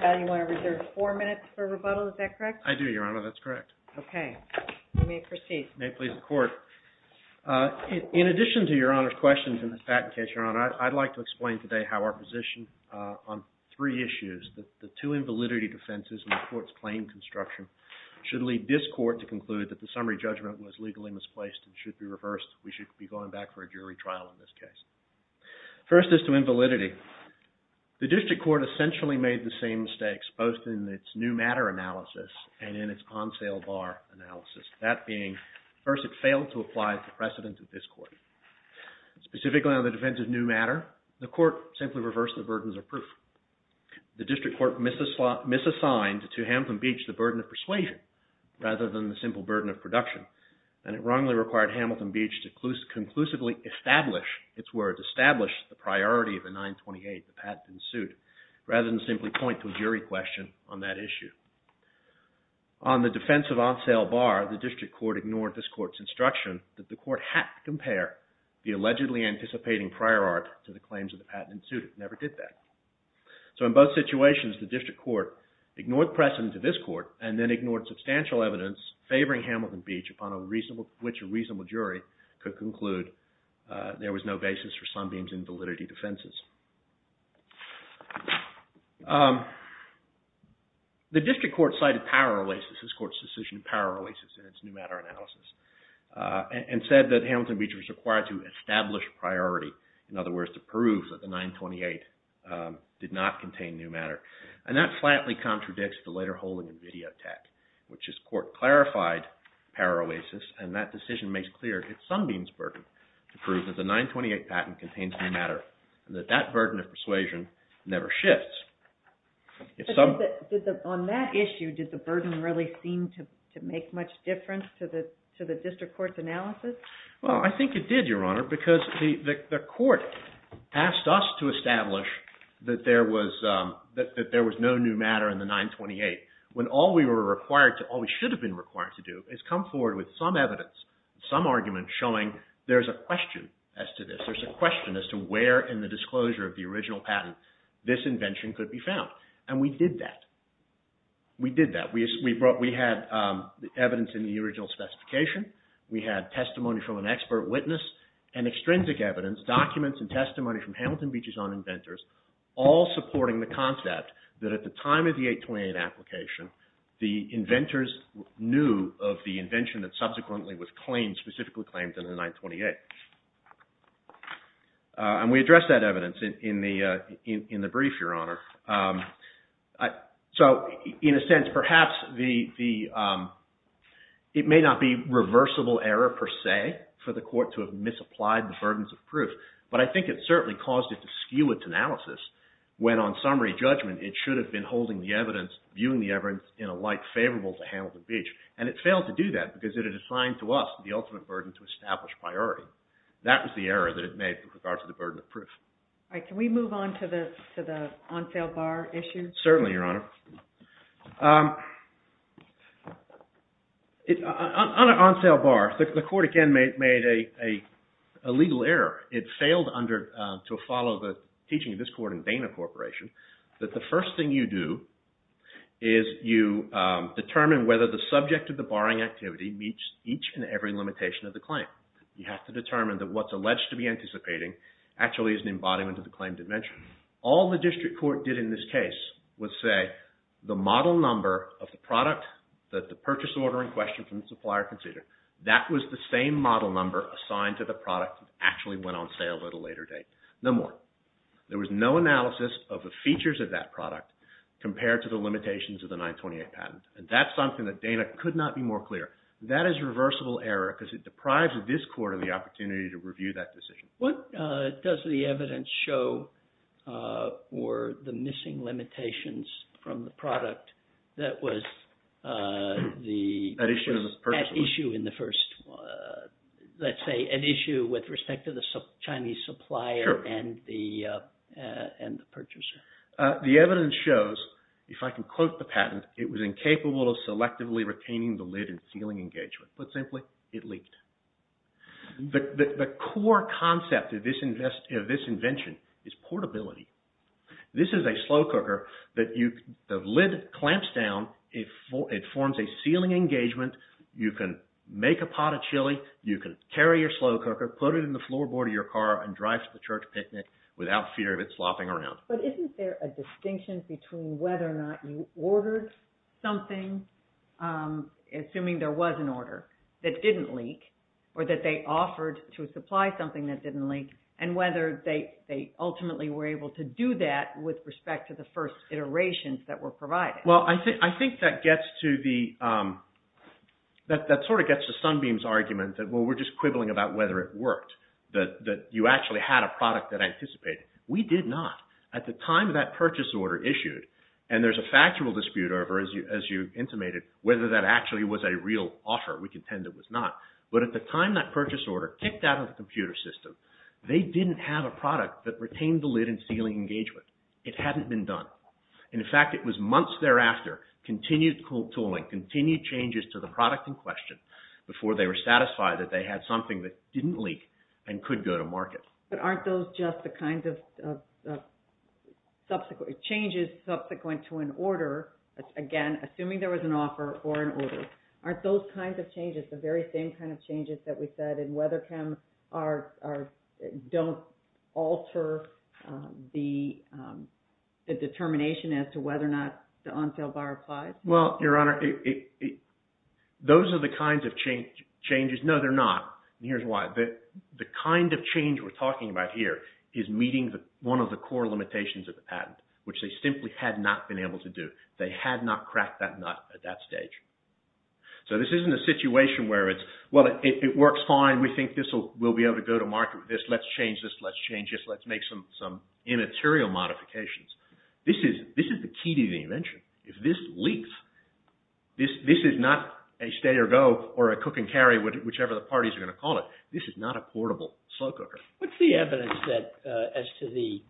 Now you want to reserve four minutes for rebuttal. Is that correct? I do, Your Honor. That's correct. Okay. You may proceed. May it please the Court. In addition to Your Honor's questions in this patent case, Your Honor, I'd like to explain today how our position on three issues, the two invalidity defenses and the Court's claim construction, should lead this Court to conclude that the summary judgment was legally misplaced and should be reversed. We should be going back for a jury trial in this case. First is to invalidity. The District Court essentially made the same mistakes both in its new matter analysis and in its on-sale bar analysis, that being first it failed to apply the precedent of this Court. Specifically on the defense of new matter, the Court simply reversed the burdens of proof. The District Court misassigned to Hamilton Beach the burden of persuasion rather than the simple burden of production, and it wrongly required Hamilton Beach to conclusively establish, its words, establish the priority of the 928, the patent in suit, rather than simply point to a jury question on that issue. On the defense of on-sale bar, the District Court ignored this Court's instruction that the Court had to compare the allegedly anticipating prior art to the claims of the patent in suit. It never did that. So in both situations, the District Court ignored precedent to this Court and then ignored substantial evidence favoring Hamilton Beach, upon which a reasonable jury could conclude there was no basis for Sunbeam's invalidity defenses. The District Court cited power releases, this Court's decision to power releases in its new matter analysis, and said that Hamilton Beach was required to establish priority, in other words, to prove that the 928 did not contain new matter. And that flatly contradicts the later holding of video tech, which this Court clarified power releases, and that decision makes clear it's Sunbeam's burden to prove that the 928 patent contains new matter, and that that burden of persuasion never shifts. On that issue, did the burden really seem to make much difference to the District Court's analysis? Well, I think it did, Your Honor, because the Court asked us to establish that there was no new matter in the 928, when all we were required to, all we should have been required to do, is come forward with some evidence, some argument showing there's a question as to this. And we did that. We did that. We had evidence in the original specification. We had testimony from an expert witness, and extrinsic evidence, documents and testimony from Hamilton Beach's own inventors, all supporting the concept that at the time of the 828 application, the inventors knew of the invention that subsequently was claimed, and the 928. And we addressed that evidence in the brief, Your Honor. So, in a sense, perhaps it may not be reversible error, per se, for the Court to have misapplied the burdens of proof, but I think it certainly caused it to skew its analysis when, on summary judgment, it should have been holding the evidence, viewing the evidence in a light favorable to Hamilton Beach. And it failed to do that because it had assigned to us the ultimate burden to establish priority. That was the error that it made with regard to the burden of proof. All right. Can we move on to the on sale bar issue? Certainly, Your Honor. On sale bar, the Court again made a legal error. It failed to follow the teaching of this Court in Dana Corporation that the first thing you do is you determine whether the subject of the barring activity meets each and every limitation of the claim. You have to determine that what's alleged to be anticipating actually is an embodiment of the claim dimension. All the District Court did in this case was say the model number of the product that the purchase order in question from the supplier considered, that was the same model number assigned to the product that actually went on sale at a later date. No more. There was no analysis of the features of that product compared to the limitations of the 928 patent. And that's something that Dana could not be more clear. That is reversible error because it deprives this Court of the opportunity to review that decision. What does the evidence show for the missing limitations from the product that was the issue in the first, let's say an issue with respect to the Chinese supplier and the purchaser? The evidence shows, if I can quote the patent, it was incapable of selectively retaining the lid and sealing engagement. Put simply, it leaked. The core concept of this invention is portability. This is a slow cooker that the lid clamps down, it forms a sealing engagement, you can make a pot of chili, you can carry your slow cooker, put it in the floorboard of your car and drive to the church picnic without fear of it slopping around. But isn't there a distinction between whether or not you ordered something, assuming there was an order, that didn't leak or that they offered to supply something that didn't leak and whether they ultimately were able to do that with respect to the first iterations that were provided? Well, I think that gets to Sunbeam's argument that we're just quibbling about whether it worked, that you actually had a product that anticipated. We did not. At the time that purchase order issued, and there's a factual dispute over, as you intimated, whether that actually was a real offer. We contend it was not. But at the time that purchase order kicked out of the computer system, they didn't have a product that retained the lid and sealing engagement. It hadn't been done. In fact, it was months thereafter, continued tooling, continued changes to the product in question But aren't those just the kinds of changes subsequent to an order? Again, assuming there was an offer or an order, aren't those kinds of changes the very same kind of changes that we said in weather cam don't alter the determination as to whether or not the on-sale bar applies? Well, Your Honor, those are the kinds of changes. No, they're not, and here's why. The kind of change we're talking about here is meeting one of the core limitations of the patent, which they simply had not been able to do. They had not cracked that nut at that stage. So this isn't a situation where it's, well, it works fine. We think we'll be able to go to market with this. Let's change this. Let's change this. Let's make some immaterial modifications. This is the key to the invention. If this leaks, this is not a stay-or-go or a cook-and-carry, whichever the parties are going to call it. This is not a portable slow cooker. What's the evidence as to the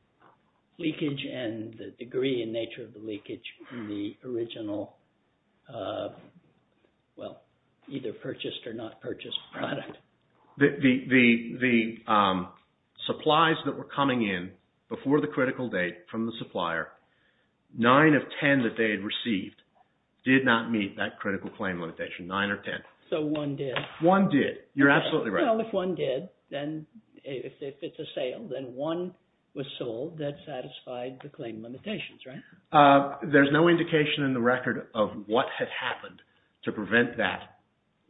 leakage and the degree and nature of the leakage in the original, well, either purchased or not purchased product? The supplies that were coming in before the critical date from the supplier, nine of ten that they had received did not meet that critical claim limitation, nine or ten. So one did. One did. You're absolutely right. Well, if one did, then if it's a sale, then one was sold that satisfied the claim limitations, right? There's no indication in the record of what had happened to prevent that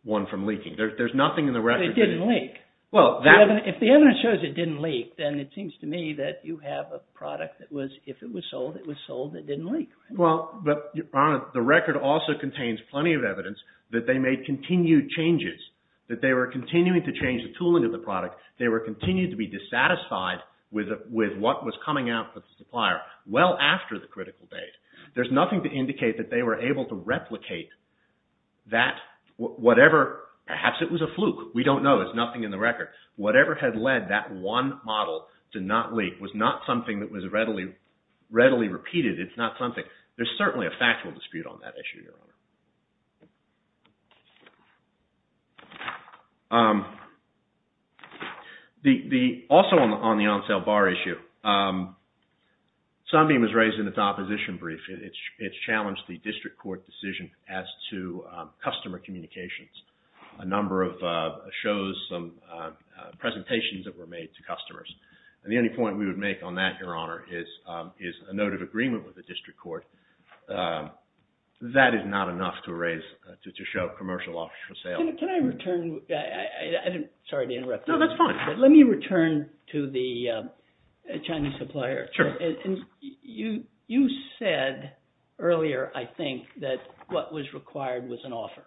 one from leaking. There's nothing in the record. It didn't leak. Well, that— If the evidence shows it didn't leak, then it seems to me that you have a product that was, if it was sold, it was sold. It didn't leak. Well, but the record also contains plenty of evidence that they made continued changes, that they were continuing to change the tooling of the product. They were continuing to be dissatisfied with what was coming out from the supplier well after the critical date. There's nothing to indicate that they were able to replicate that whatever—perhaps it was a fluke. We don't know. There's nothing in the record. Whatever had led that one model to not leak was not something that was readily repeated. It's not something—there's certainly a factual dispute on that issue, Your Honor. The—also on the on-sale bar issue, Sunbeam was raised in its opposition brief. It's challenged the district court decision as to customer communications. A number of shows, some presentations that were made to customers. And the only point we would make on that, Your Honor, is a note of agreement with the district court. That is not enough to raise—to show commercial offers for sale. Can I return—sorry to interrupt. No, that's fine. Let me return to the Chinese supplier. Sure. You said earlier, I think, that what was required was an offer,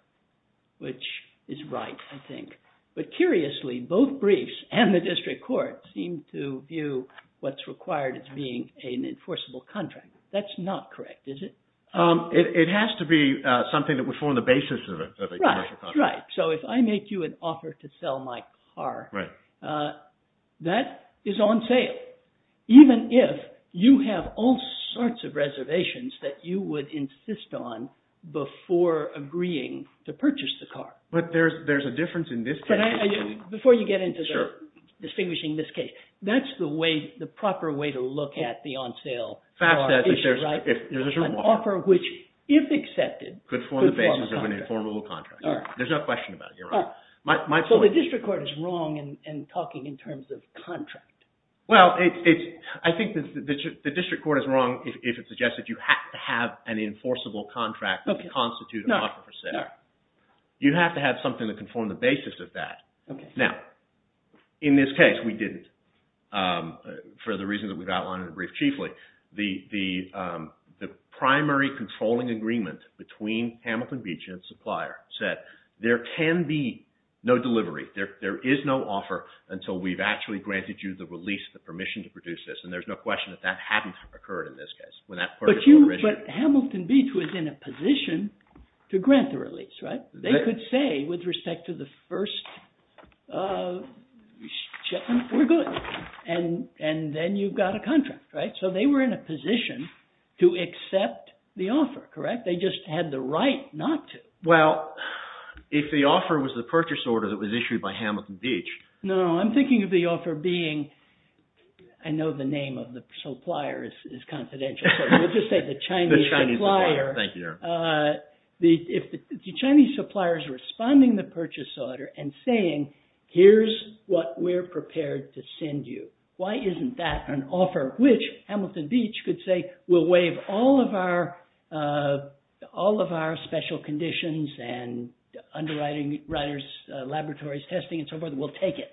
which is right, I think. But curiously, both briefs and the district court seem to view what's required as being an enforceable contract. That's not correct, is it? It has to be something that would form the basis of a commercial contract. Right. So if I make you an offer to sell my car, that is on sale. Even if you have all sorts of reservations that you would insist on before agreeing to purchase the car. But there's a difference in this case. Before you get into distinguishing this case, that's the proper way to look at the on-sale car issue, right? An offer which, if accepted, could form a contract. Could form the basis of an informal contract. There's no question about it, Your Honor. So the district court is wrong in talking in terms of contract. Well, I think the district court is wrong if it suggests that you have to have an enforceable contract to constitute an offer for sale. You have to have something that can form the basis of that. Now, in this case, we didn't, for the reasons that we've outlined in the brief chiefly. The primary controlling agreement between Hamilton Beach and its supplier said there can be no delivery. There is no offer until we've actually granted you the release, the permission to produce this. And there's no question that that hadn't occurred in this case. But Hamilton Beach was in a position to grant the release, right? They could say, with respect to the first shipment, we're good. And then you've got a contract, right? So they were in a position to accept the offer, correct? They just had the right not to. Well, if the offer was the purchase order that was issued by Hamilton Beach. No, I'm thinking of the offer being, I know the name of the supplier is confidential. We'll just say the Chinese supplier. Thank you. If the Chinese supplier is responding the purchase order and saying, here's what we're prepared to send you. Why isn't that an offer? Which Hamilton Beach could say, we'll waive all of our special conditions and underwriting, writers, laboratories, testing, and so forth. We'll take it.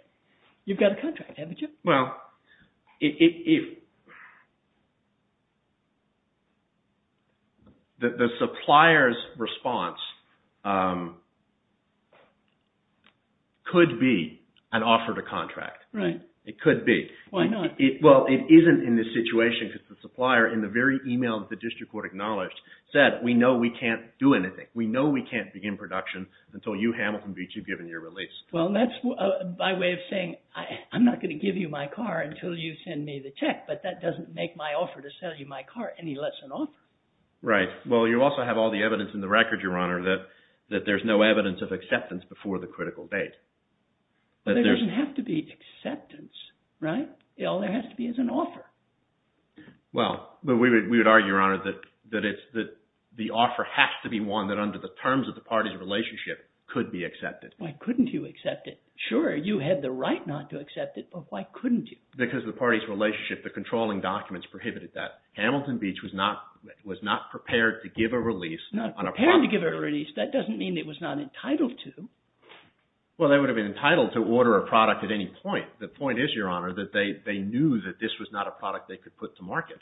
You've got a contract, haven't you? Well, the supplier's response could be an offer to contract. Right. It could be. Why not? Well, it isn't in this situation because the supplier, in the very email that the district court acknowledged, said, we know we can't do anything. We know we can't begin production until you, Hamilton Beach, have given your release. Well, that's my way of saying, I'm not going to give you my car until you send me the check. But that doesn't make my offer to sell you my car any less an offer. Right. Well, you also have all the evidence in the record, Your Honor, that there's no evidence of acceptance before the critical date. But there doesn't have to be acceptance, right? All there has to be is an offer. Well, we would argue, Your Honor, that the offer has to be one that under the terms of the party's relationship could be accepted. Why couldn't you accept it? Sure, you had the right not to accept it, but why couldn't you? Because of the party's relationship, the controlling documents prohibited that. Hamilton Beach was not prepared to give a release. Not prepared to give a release? That doesn't mean it was not entitled to. Well, they would have been entitled to order a product at any point. The point is, Your Honor, that they knew that this was not a product they could put to market.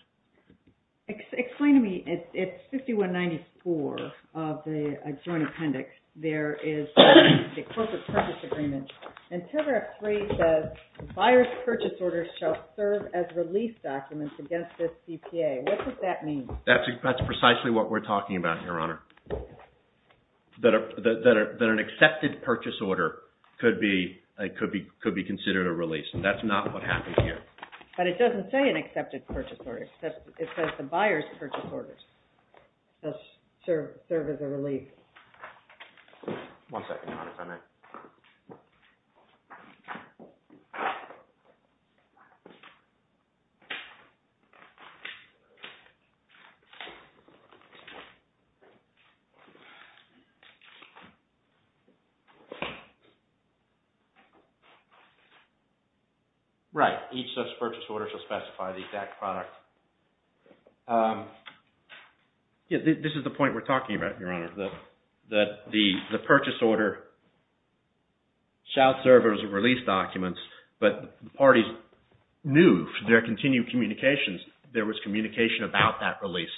Explain to me, it's 5194 of the adjoining appendix. There is the corporate purchase agreement. And paragraph 3 says, the buyer's purchase order shall serve as release documents against this CPA. What does that mean? That's precisely what we're talking about, Your Honor. That an accepted purchase order could be considered a release. And that's not what happened here. But it doesn't say an accepted purchase order. It says the buyer's purchase order shall serve as a release. One second, Your Honor, just a minute. Right, each such purchase order shall specify the exact product. This is the point we're talking about, Your Honor. The purchase order shall serve as a release document. But the parties knew their continued communications. There was communication about that release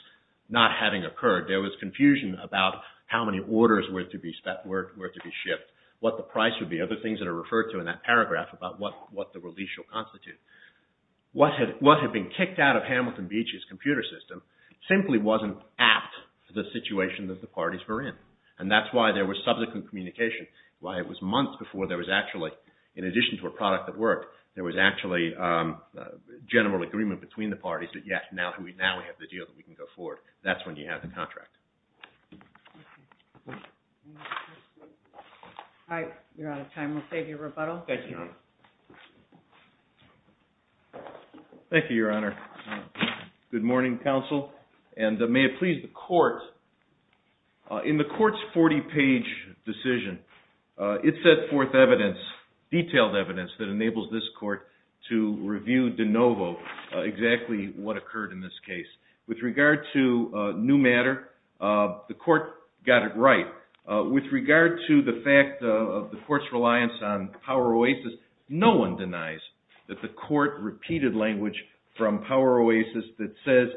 not having occurred. There was confusion about how many orders were to be shipped, what the price would be, other things that are referred to in that paragraph about what the release will constitute. What had been kicked out of Hamilton Beach's computer system simply wasn't apt for the situation that the parties were in. And that's why there was subsequent communication. Why it was months before there was actually, in addition to a product that worked, there was actually general agreement between the parties that, yes, now we have the deal that we can go forward. That's when you have the contract. All right, you're out of time. We'll save you rebuttal. Thank you, Your Honor. Thank you, Your Honor. Good morning, counsel, and may it please the court. In the court's 40-page decision, it set forth evidence, detailed evidence, that enables this court to review de novo exactly what occurred in this case. With regard to new matter, the court got it right. With regard to the fact of the court's reliance on Power Oasis, no one denies that the court repeated language from Power Oasis that says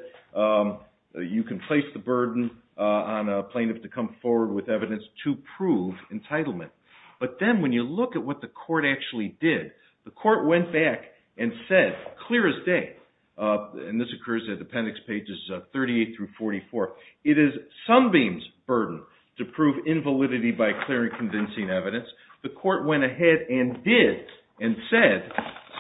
you can place the burden on a plaintiff to come forward with evidence to prove entitlement. But then when you look at what the court actually did, the court went back and said clear as day, and this occurs at appendix pages 38 through 44, it is Sunbeam's burden to prove invalidity by clear and convincing evidence. The court went ahead and did and said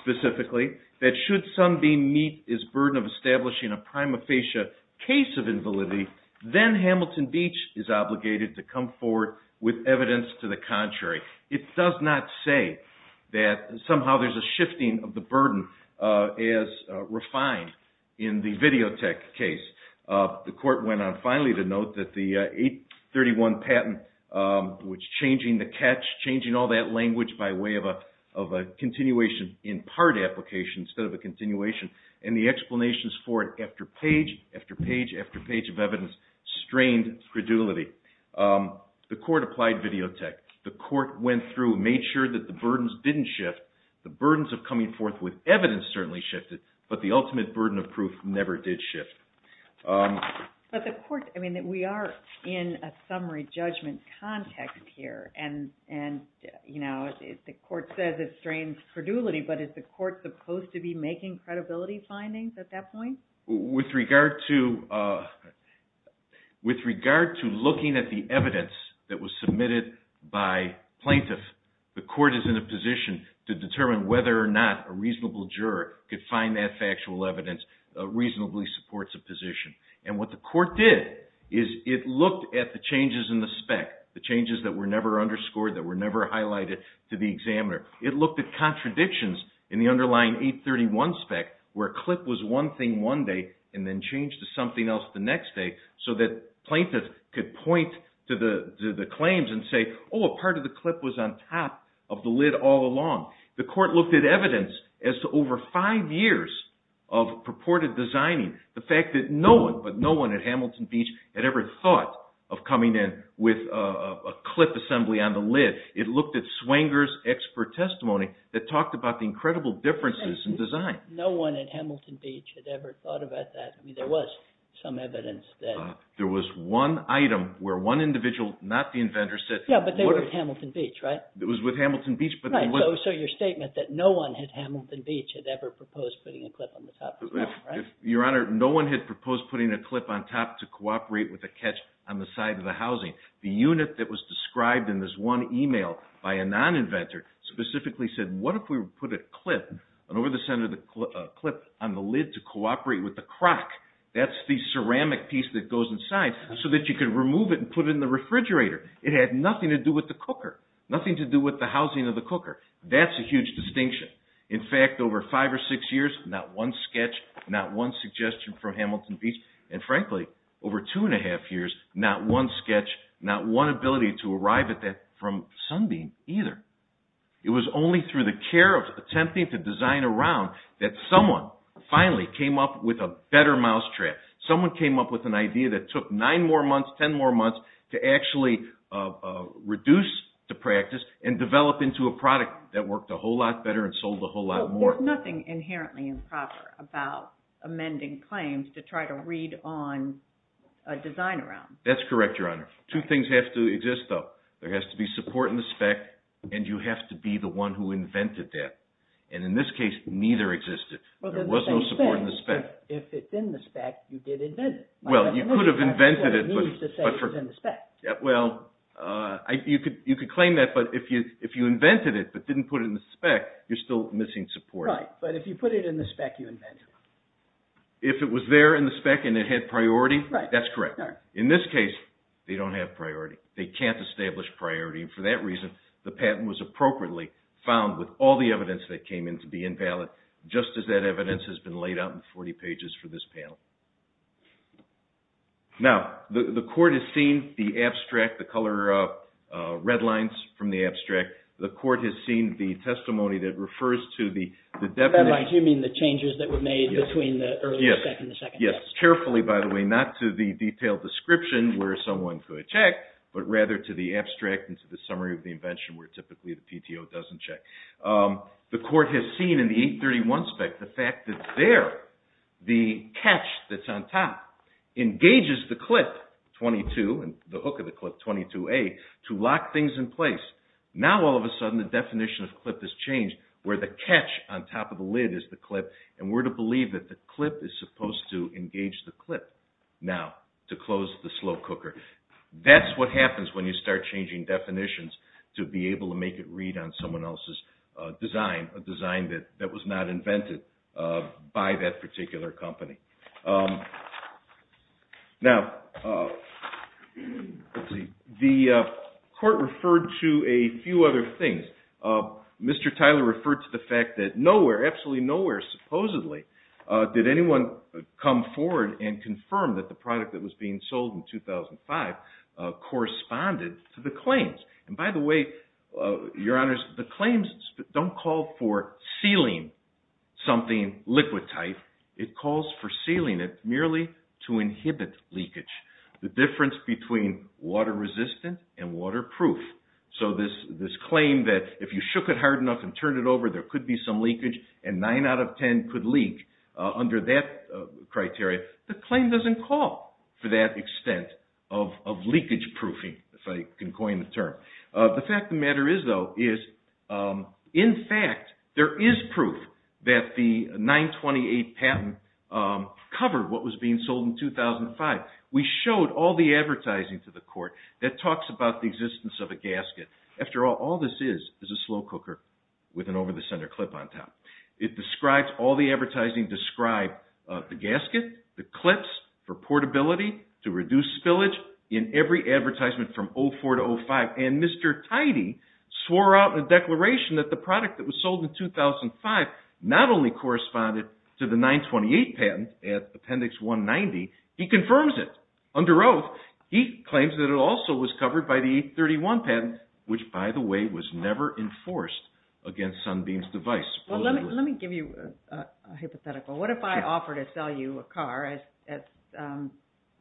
specifically that should Sunbeam meet his burden of establishing a prima facie case of invalidity, then Hamilton Beach is obligated to come forward with evidence to the contrary. It does not say that somehow there's a shifting of the burden as refined in the Videotech case. The court went on finally to note that the 831 patent, which changing the catch, changing all that language by way of a continuation in part application instead of a continuation, and the explanations for it after page after page after page of evidence strained credulity. The court applied Videotech. The court went through and made sure that the burdens didn't shift. The burdens of coming forth with evidence certainly shifted, but the ultimate burden of proof never did shift. But the court, I mean, we are in a summary judgment context here, and the court says it strains credulity, but is the court supposed to be making credibility findings at that point? With regard to looking at the evidence that was submitted by plaintiffs, the court is in a position to determine whether or not a reasonable juror could reasonably support the position. And what the court did is it looked at the changes in the spec, the changes that were never underscored, that were never highlighted to the examiner. It looked at contradictions in the underlying 831 spec where a clip was one thing one day and then changed to something else the next day so that plaintiffs could point to the claims and say, oh, a part of the clip was on top of the lid all along. The court looked at evidence as to over five years of purported designing, the fact that no one, but no one at Hamilton Beach, had ever thought of coming in with a clip assembly on the lid. It looked at Swenger's expert testimony that talked about the incredible differences in design. No one at Hamilton Beach had ever thought about that. There was some evidence that… There was one item where one individual, not the inventor, said… Yeah, but they were at Hamilton Beach, right? It was with Hamilton Beach, but… Right, so your statement that no one at Hamilton Beach had ever proposed putting a clip on the top of the lid, right? Your Honor, no one had proposed putting a clip on top to cooperate with a catch on the side of the housing. The unit that was described in this one email by a non-inventor specifically said, what if we put a clip on over the center of the clip on the lid to cooperate with the crock, that's the ceramic piece that goes inside, so that you could remove it and put it in the refrigerator. It had nothing to do with the cooker. Nothing to do with the housing of the cooker. That's a huge distinction. In fact, over five or six years, not one sketch, not one suggestion from Hamilton Beach, and frankly, over two and a half years, not one sketch, not one ability to arrive at that from Sunbeam either. It was only through the care of attempting to design around that someone finally came up with a better mousetrap. Someone came up with an idea that took nine more months, 10 more months to actually reduce the practice and develop into a product that worked a whole lot better and sold a whole lot more. There's nothing inherently improper about amending claims to try to read on a design around. That's correct, Your Honor. Two things have to exist, though. There has to be support in the spec, and you have to be the one who invented that, and in this case, neither existed. There was no support in the spec. If it's in the spec, you did invent it. Well, you could have invented it. That's what it means to say it's in the spec. Well, you could claim that, but if you invented it but didn't put it in the spec, you're still missing support. Right, but if you put it in the spec, you invent it. If it was there in the spec and it had priority, that's correct. In this case, they don't have priority. They can't establish priority, and for that reason, the patent was appropriately found with all the evidence that came in to be invalid, just as that evidence has been laid out in 40 pages for this panel. Now, the court has seen the abstract, the color red lines from the abstract. The court has seen the testimony that refers to the definite. By red lines, you mean the changes that were made between the earlier spec and the second spec. Yes, carefully, by the way, not to the detailed description where someone could check, but rather to the abstract and to the summary of the invention where typically the PTO doesn't check. The court has seen in the 831 spec the fact that there, the catch that's on top engages the clip 22 and the hook of the clip 22A to lock things in place. Now, all of a sudden, the definition of clip has changed where the catch on top of the lid is the clip, and we're to believe that the clip is supposed to engage the clip now to close the slow cooker. That's what happens when you start changing definitions to be able to make it read on someone else's design, a design that was not invented by that particular company. Now, the court referred to a few other things. Mr. Tyler referred to the fact that nowhere, absolutely nowhere, supposedly, did anyone come forward and confirm that the product that was being sold in 2005 corresponded to the claims. And by the way, your honors, the claims don't call for sealing something liquid-type. It calls for sealing it merely to inhibit leakage. The difference between water-resistant and waterproof. So this claim that if you shook it hard enough and turned it over, there could be some leakage and nine out of ten could leak, under that criteria, the claim doesn't call for that extent of leakage according to the term. The fact of the matter is, though, is, in fact, there is proof that the 928 patent covered what was being sold in 2005. We showed all the advertising to the court that talks about the existence of a gasket. After all, all this is is a slow cooker with an over-the-center clip on top. It describes, all the advertising described the gasket, the clips for portability to reduce spillage in every advertisement from 2004 to 2005. And Mr. Tidy swore out in a declaration that the product that was sold in 2005 not only corresponded to the 928 patent at Appendix 190, he confirms it. Under oath, he claims that it also was covered by the 831 patent, which, by the way, was never enforced against Sunbeam's device. Well, let me give you a hypothetical. What if I offer to sell you a car, as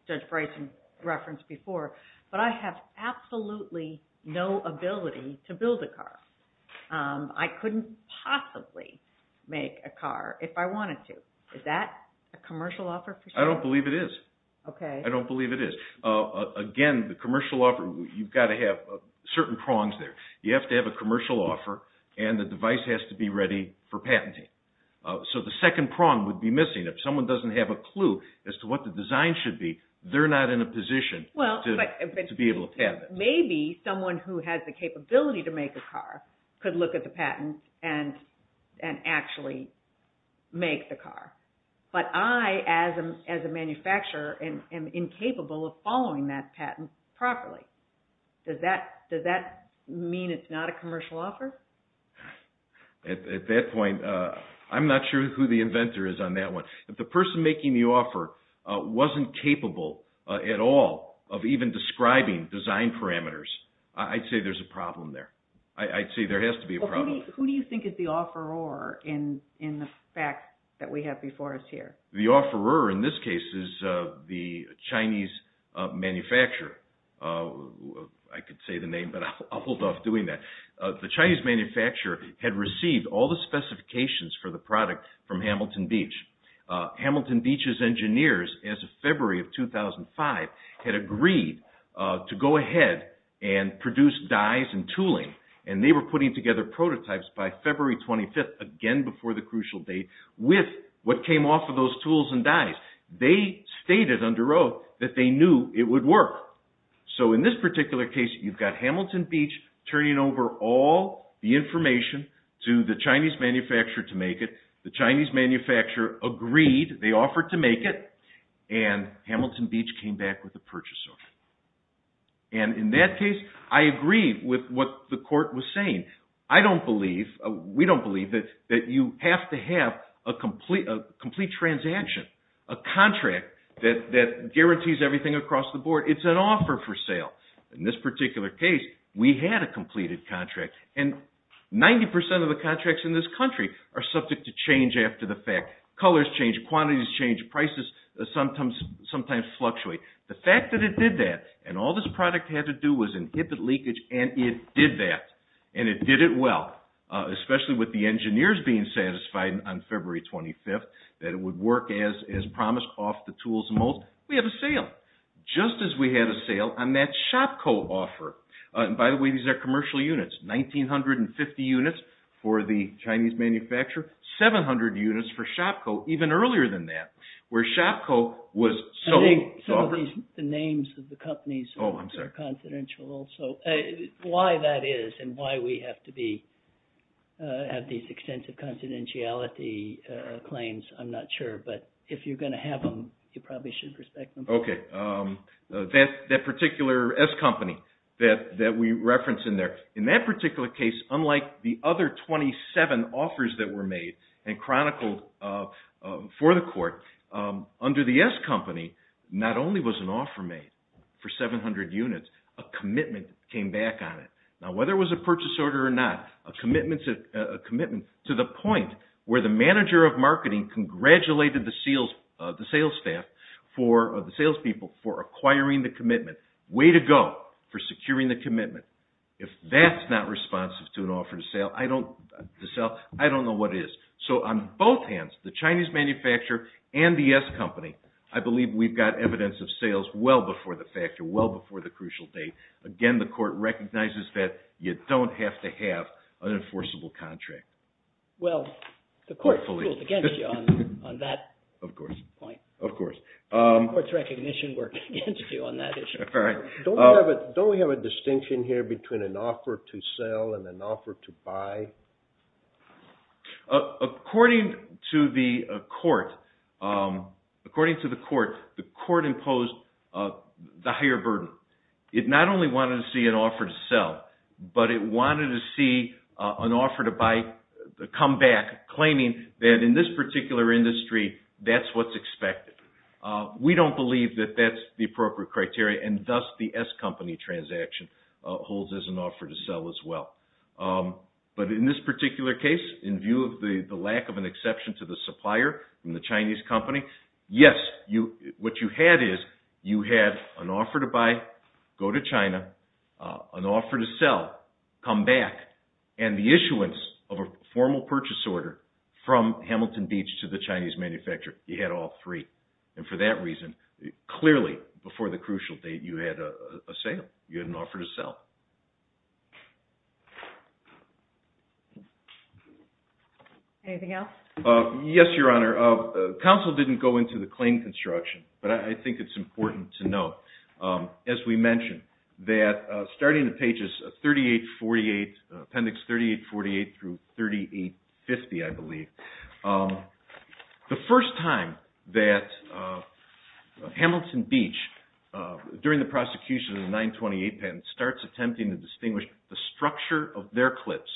Judge Bryson referenced before, but I have absolutely no ability to build a car? I couldn't possibly make a car if I wanted to. Is that a commercial offer for sale? I don't believe it is. Okay. I don't believe it is. Again, the commercial offer, you've got to have certain prongs there. You have to have a commercial offer, and the device has to be ready for patenting. So the second prong would be missing. If someone doesn't have a clue as to what the design should be, they're not in a position to be able to patent it. Maybe someone who has the capability to make a car could look at the patent and actually make the car. But I, as a manufacturer, am incapable of following that patent properly. Does that mean it's not a commercial offer? At that point, I'm not sure who the inventor is on that one. If the person making the offer wasn't capable at all of even describing design parameters, I'd say there's a problem there. I'd say there has to be a problem. Who do you think is the offeror in the fact that we have before us here? The offeror in this case is the Chinese manufacturer. I could say the name, but I'll hold off doing that. The Chinese manufacturer had received all the specifications for the product from Hamilton Beach. Hamilton Beach's engineers, as of February of 2005, had agreed to go ahead and produce dyes and tooling, and they were putting together prototypes by February 25th, again before the crucial date, with what came off of those tools and dyes. They stated under oath that they knew it would work. So in this particular case, you've got Hamilton Beach turning over all the information to the Chinese manufacturer to make it. The Chinese manufacturer agreed, they offered to make it, and Hamilton Beach came back with a purchase order. And in that case, I agree with what the court was saying. I don't believe, we don't believe, that you have to have a complete transaction, a contract that guarantees everything across the board. It's an offer for sale. In this particular case, we had a completed contract, and 90% of the contracts in this country are subject to change after the fact. Colors change, quantities change, prices sometimes fluctuate. The fact that it did that, and all this product had to do was inhibit leakage, and it did that, and it did it well, especially with the engineers being satisfied on February 25th that it would work as promised off the tools and molds. We have a sale, just as we had a sale on that ShopCo offer. By the way, these are commercial units. 1,950 units for the Chinese manufacturer, 700 units for ShopCo even earlier than that, where ShopCo was sold. I think some of the names of the companies are confidential also. Why that is, and why we have to have these extensive confidentiality claims, I'm not sure, but if you're going to have them, you probably should respect them. That particular S company that we reference in there, in that particular case, unlike the other 27 offers that were made and chronicled for the court, under the S company, not only was an offer made for 700 units, a commitment came back on it. Now, whether it was a purchase order or not, a commitment to the point where the manager of marketing congratulated the sales people for acquiring the commitment. Way to go for securing the commitment. If that's not responsive to an offer to sell, I don't know what is. So on both hands, the Chinese manufacturer and the S company, I believe we've got evidence of sales well before the factor, well before the crucial date. Again, the court recognizes that you don't have to have an enforceable contract. Well, the court ruled against you on that point. Of course. The court's recognition worked against you on that issue. Don't we have a distinction here between an offer to sell and an offer to buy? According to the court, the court imposed the higher burden. It not only wanted to see an offer to sell, but it wanted to see an offer to buy come back, claiming that in this particular industry, that's what's expected. We don't believe that that's the appropriate criteria, and thus the S company transaction holds as an offer to sell as well. But in this particular case, in view of the lack of an exception to the supplier from the Chinese company, yes, what you had is you had an offer to buy, go to China, an offer to sell, come back, and the issuance of a formal purchase order from Hamilton Beach to the Chinese manufacturer. You had all three. And for that reason, clearly, before the crucial date, you had a sale. You had an offer to sell. Anything else? Yes, Your Honor. Counsel didn't go into the claim construction, but I think it's important to note, as we mentioned, that starting at pages 3848, appendix 3848 through 3850, I believe, the first time that Hamilton Beach, during the prosecution of the 928 patent, starts attempting to distinguish the structure of their clips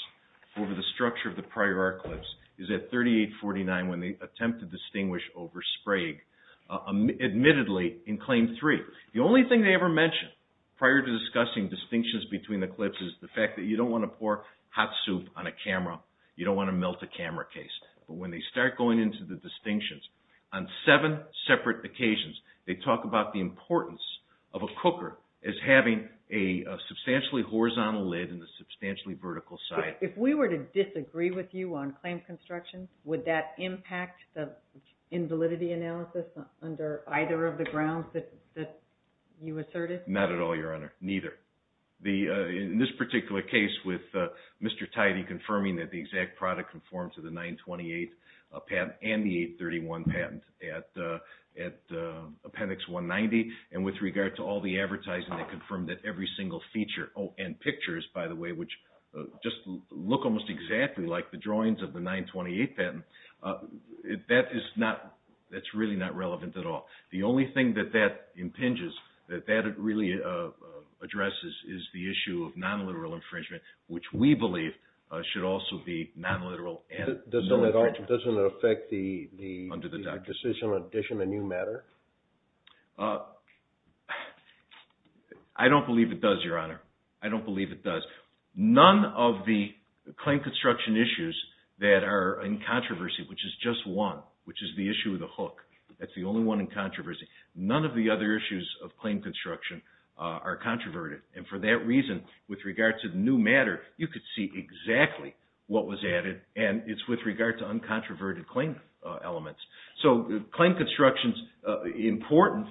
over the structure of the prior art clips is at 3849 when they attempt to distinguish over Sprague, admittedly in Claim 3. The only thing they ever mention prior to discussing distinctions between the clips is the fact that you don't want to pour hot soup on a camera. You don't want to melt a camera case. But when they start going into the distinctions, on seven separate occasions, they talk about the importance of a cooker as having a substantially horizontal lid and a substantially vertical side. If we were to disagree with you on claim construction, would that impact the invalidity analysis under either of the grounds that you asserted? Not at all, Your Honor. Neither. In this particular case with Mr. Tidey confirming that the exact product conformed to the 928 patent and the 831 patent at appendix 190, and with regard to all the advertising that confirmed that every single feature, oh, and pictures, by the way, which just look almost exactly like the drawings of the 928 patent, that's really not relevant at all. The only thing that that impinges, that that really addresses, is the issue of non-literal infringement, which we believe should also be non-literal. Doesn't it affect the decision to issue a new matter? I don't believe it does, Your Honor. I don't believe it does. None of the claim construction issues that are in controversy, which is just one, which is the issue of the hook, that's the only one in controversy, none of the other issues of claim construction are controverted. And for that reason, with regard to the new matter, you could see exactly what was added, and it's with regard to uncontroverted claim elements. So claim construction is important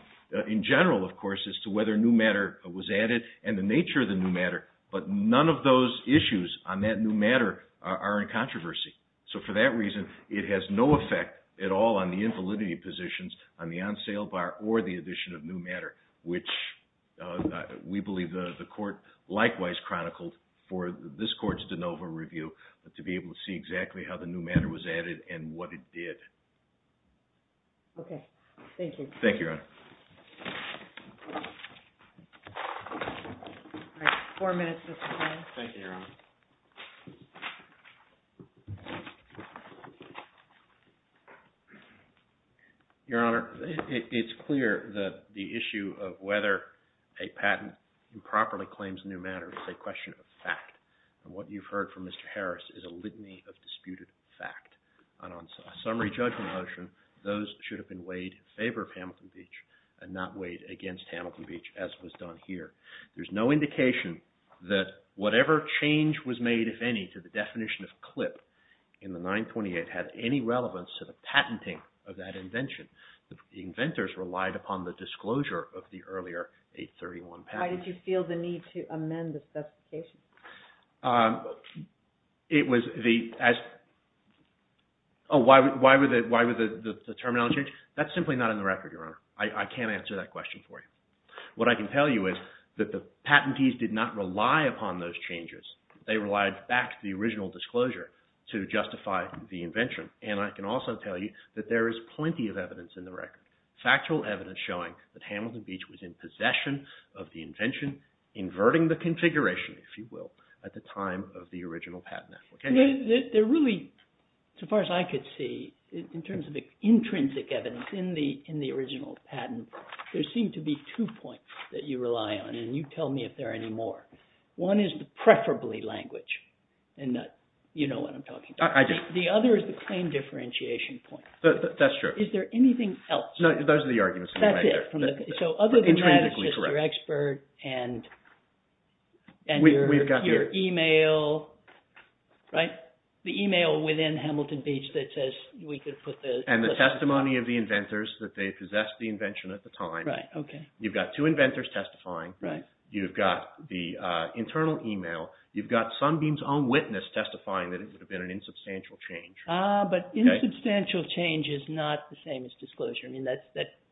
in general, of course, as to whether new matter was added and the nature of the new matter, but none of those issues on that new matter are in controversy. So for that reason, it has no effect at all on the invalidity positions on the on-sale bar or the addition of new matter, which we believe the Court likewise chronicled for this Court's de novo review to be able to see exactly how the new matter was added and what it did. Okay. Thank you. Thank you, Your Honor. Your Honor, it's clear that the issue of whether a patent improperly claims new matter is a question of fact. And what you've heard from Mr. Harris is a litany of disputed fact. And on summary judgment motion, those should have been weighed in favor of Hamilton Beach and not weighed against Hamilton Beach, as was done here. There's no indication that whatever change was made, if any, to the definition of CLIP in the 928 had any relevance to the patenting of that invention. The inventors relied upon the disclosure of the earlier 831 patent. Why did you feel the need to amend the specification? It was the – oh, why would the terminology change? That's simply not in the record, Your Honor. I can't answer that question for you. What I can tell you is that the patentees did not rely upon those changes. They relied back to the original disclosure to justify the invention. And I can also tell you that there is plenty of evidence in the record, factual evidence showing that Hamilton Beach was in possession of the invention, inverting the configuration, if you will, at the time of the original patent application. There really, as far as I could see, in terms of the intrinsic evidence in the original patent, there seem to be two points that you rely on, and you tell me if there are any more. One is the preferably language, and you know what I'm talking about. I do. The other is the claim differentiation point. That's true. Is there anything else? No, those are the arguments. That's it. So other than that, it's just your expert and your e-mail, right? The e-mail within Hamilton Beach that says we could put the— And the testimony of the inventors that they possessed the invention at the time. Right, okay. You've got two inventors testifying. Right. You've got the internal e-mail. You've got Sunbeam's own witness testifying that it would have been an insubstantial change. Ah, but insubstantial change is not the same as disclosure.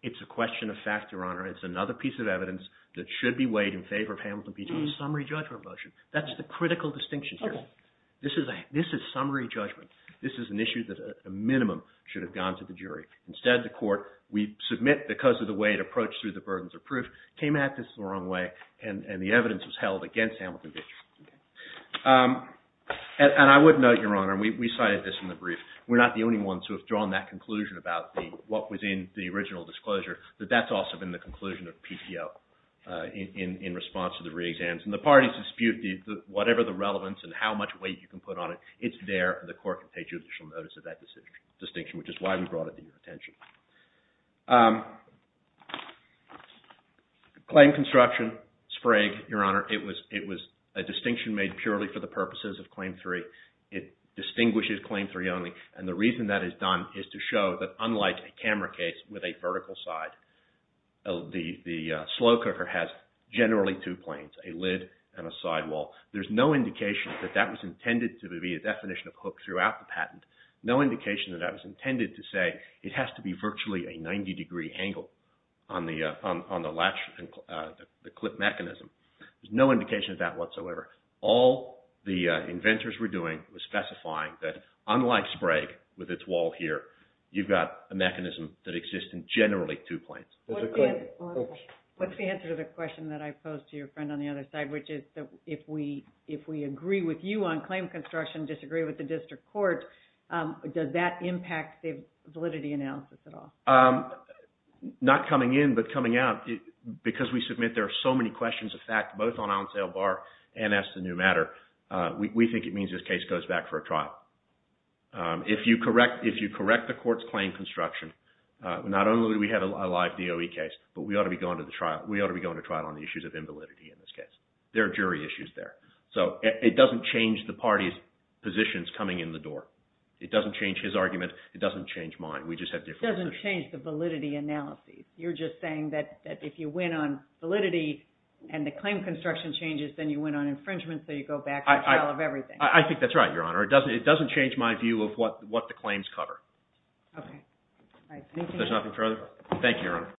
It's a question of fact, Your Honor. It's another piece of evidence that should be weighed in favor of Hamilton Beach on a summary judgment motion. That's the critical distinction here. Okay. This is summary judgment. This is an issue that a minimum should have gone to the jury. Instead, the court, we submit because of the way it approached through the burdens of proof, came at this the wrong way, and the evidence was held against Hamilton Beach. Okay. And I would note, Your Honor, and we cited this in the brief, we're not the only ones who have drawn that conclusion about what was in the original disclosure, that that's also been the conclusion of PTO in response to the re-exams. And the parties dispute whatever the relevance and how much weight you can put on it. It's there, and the court can take judicial notice of that distinction, which is why we brought it to your attention. Claim construction, Sprague, Your Honor, it was a distinction made purely for the purposes of Claim 3. It distinguishes Claim 3 only, and the reason that is done is to show that unlike a camera case with a vertical side, the slow cooker has generally two planes, a lid and a sidewall. There's no indication that that was intended to be a definition of hook throughout the patent. No indication that that was intended to say it has to be virtually a 90-degree angle on the latch, the clip mechanism. There's no indication of that whatsoever. All the inventors were doing was specifying that unlike Sprague with its wall here, you've got a mechanism that exists in generally two planes. What's the answer to the question that I posed to your friend on the other side, which is if we agree with you on claim construction, disagree with the district court, does that impact the validity analysis at all? Not coming in, but coming out, because we submit there are so many questions of fact, both on On Sale Bar and Ask the New Matter, we think it means this case goes back for a trial. If you correct the court's claim construction, not only do we have a live DOE case, but we ought to be going to trial on the issues of invalidity in this case. There are jury issues there. So it doesn't change the party's positions coming in the door. It doesn't change his argument. It doesn't change mine. We just have different positions. It doesn't change the validity analysis. You're just saying that if you win on validity and the claim construction changes, then you win on infringement, so you go back to a trial of everything. I think that's right, Your Honor. It doesn't change my view of what the claims cover. Okay. There's nothing further? Thank you, Your Honor.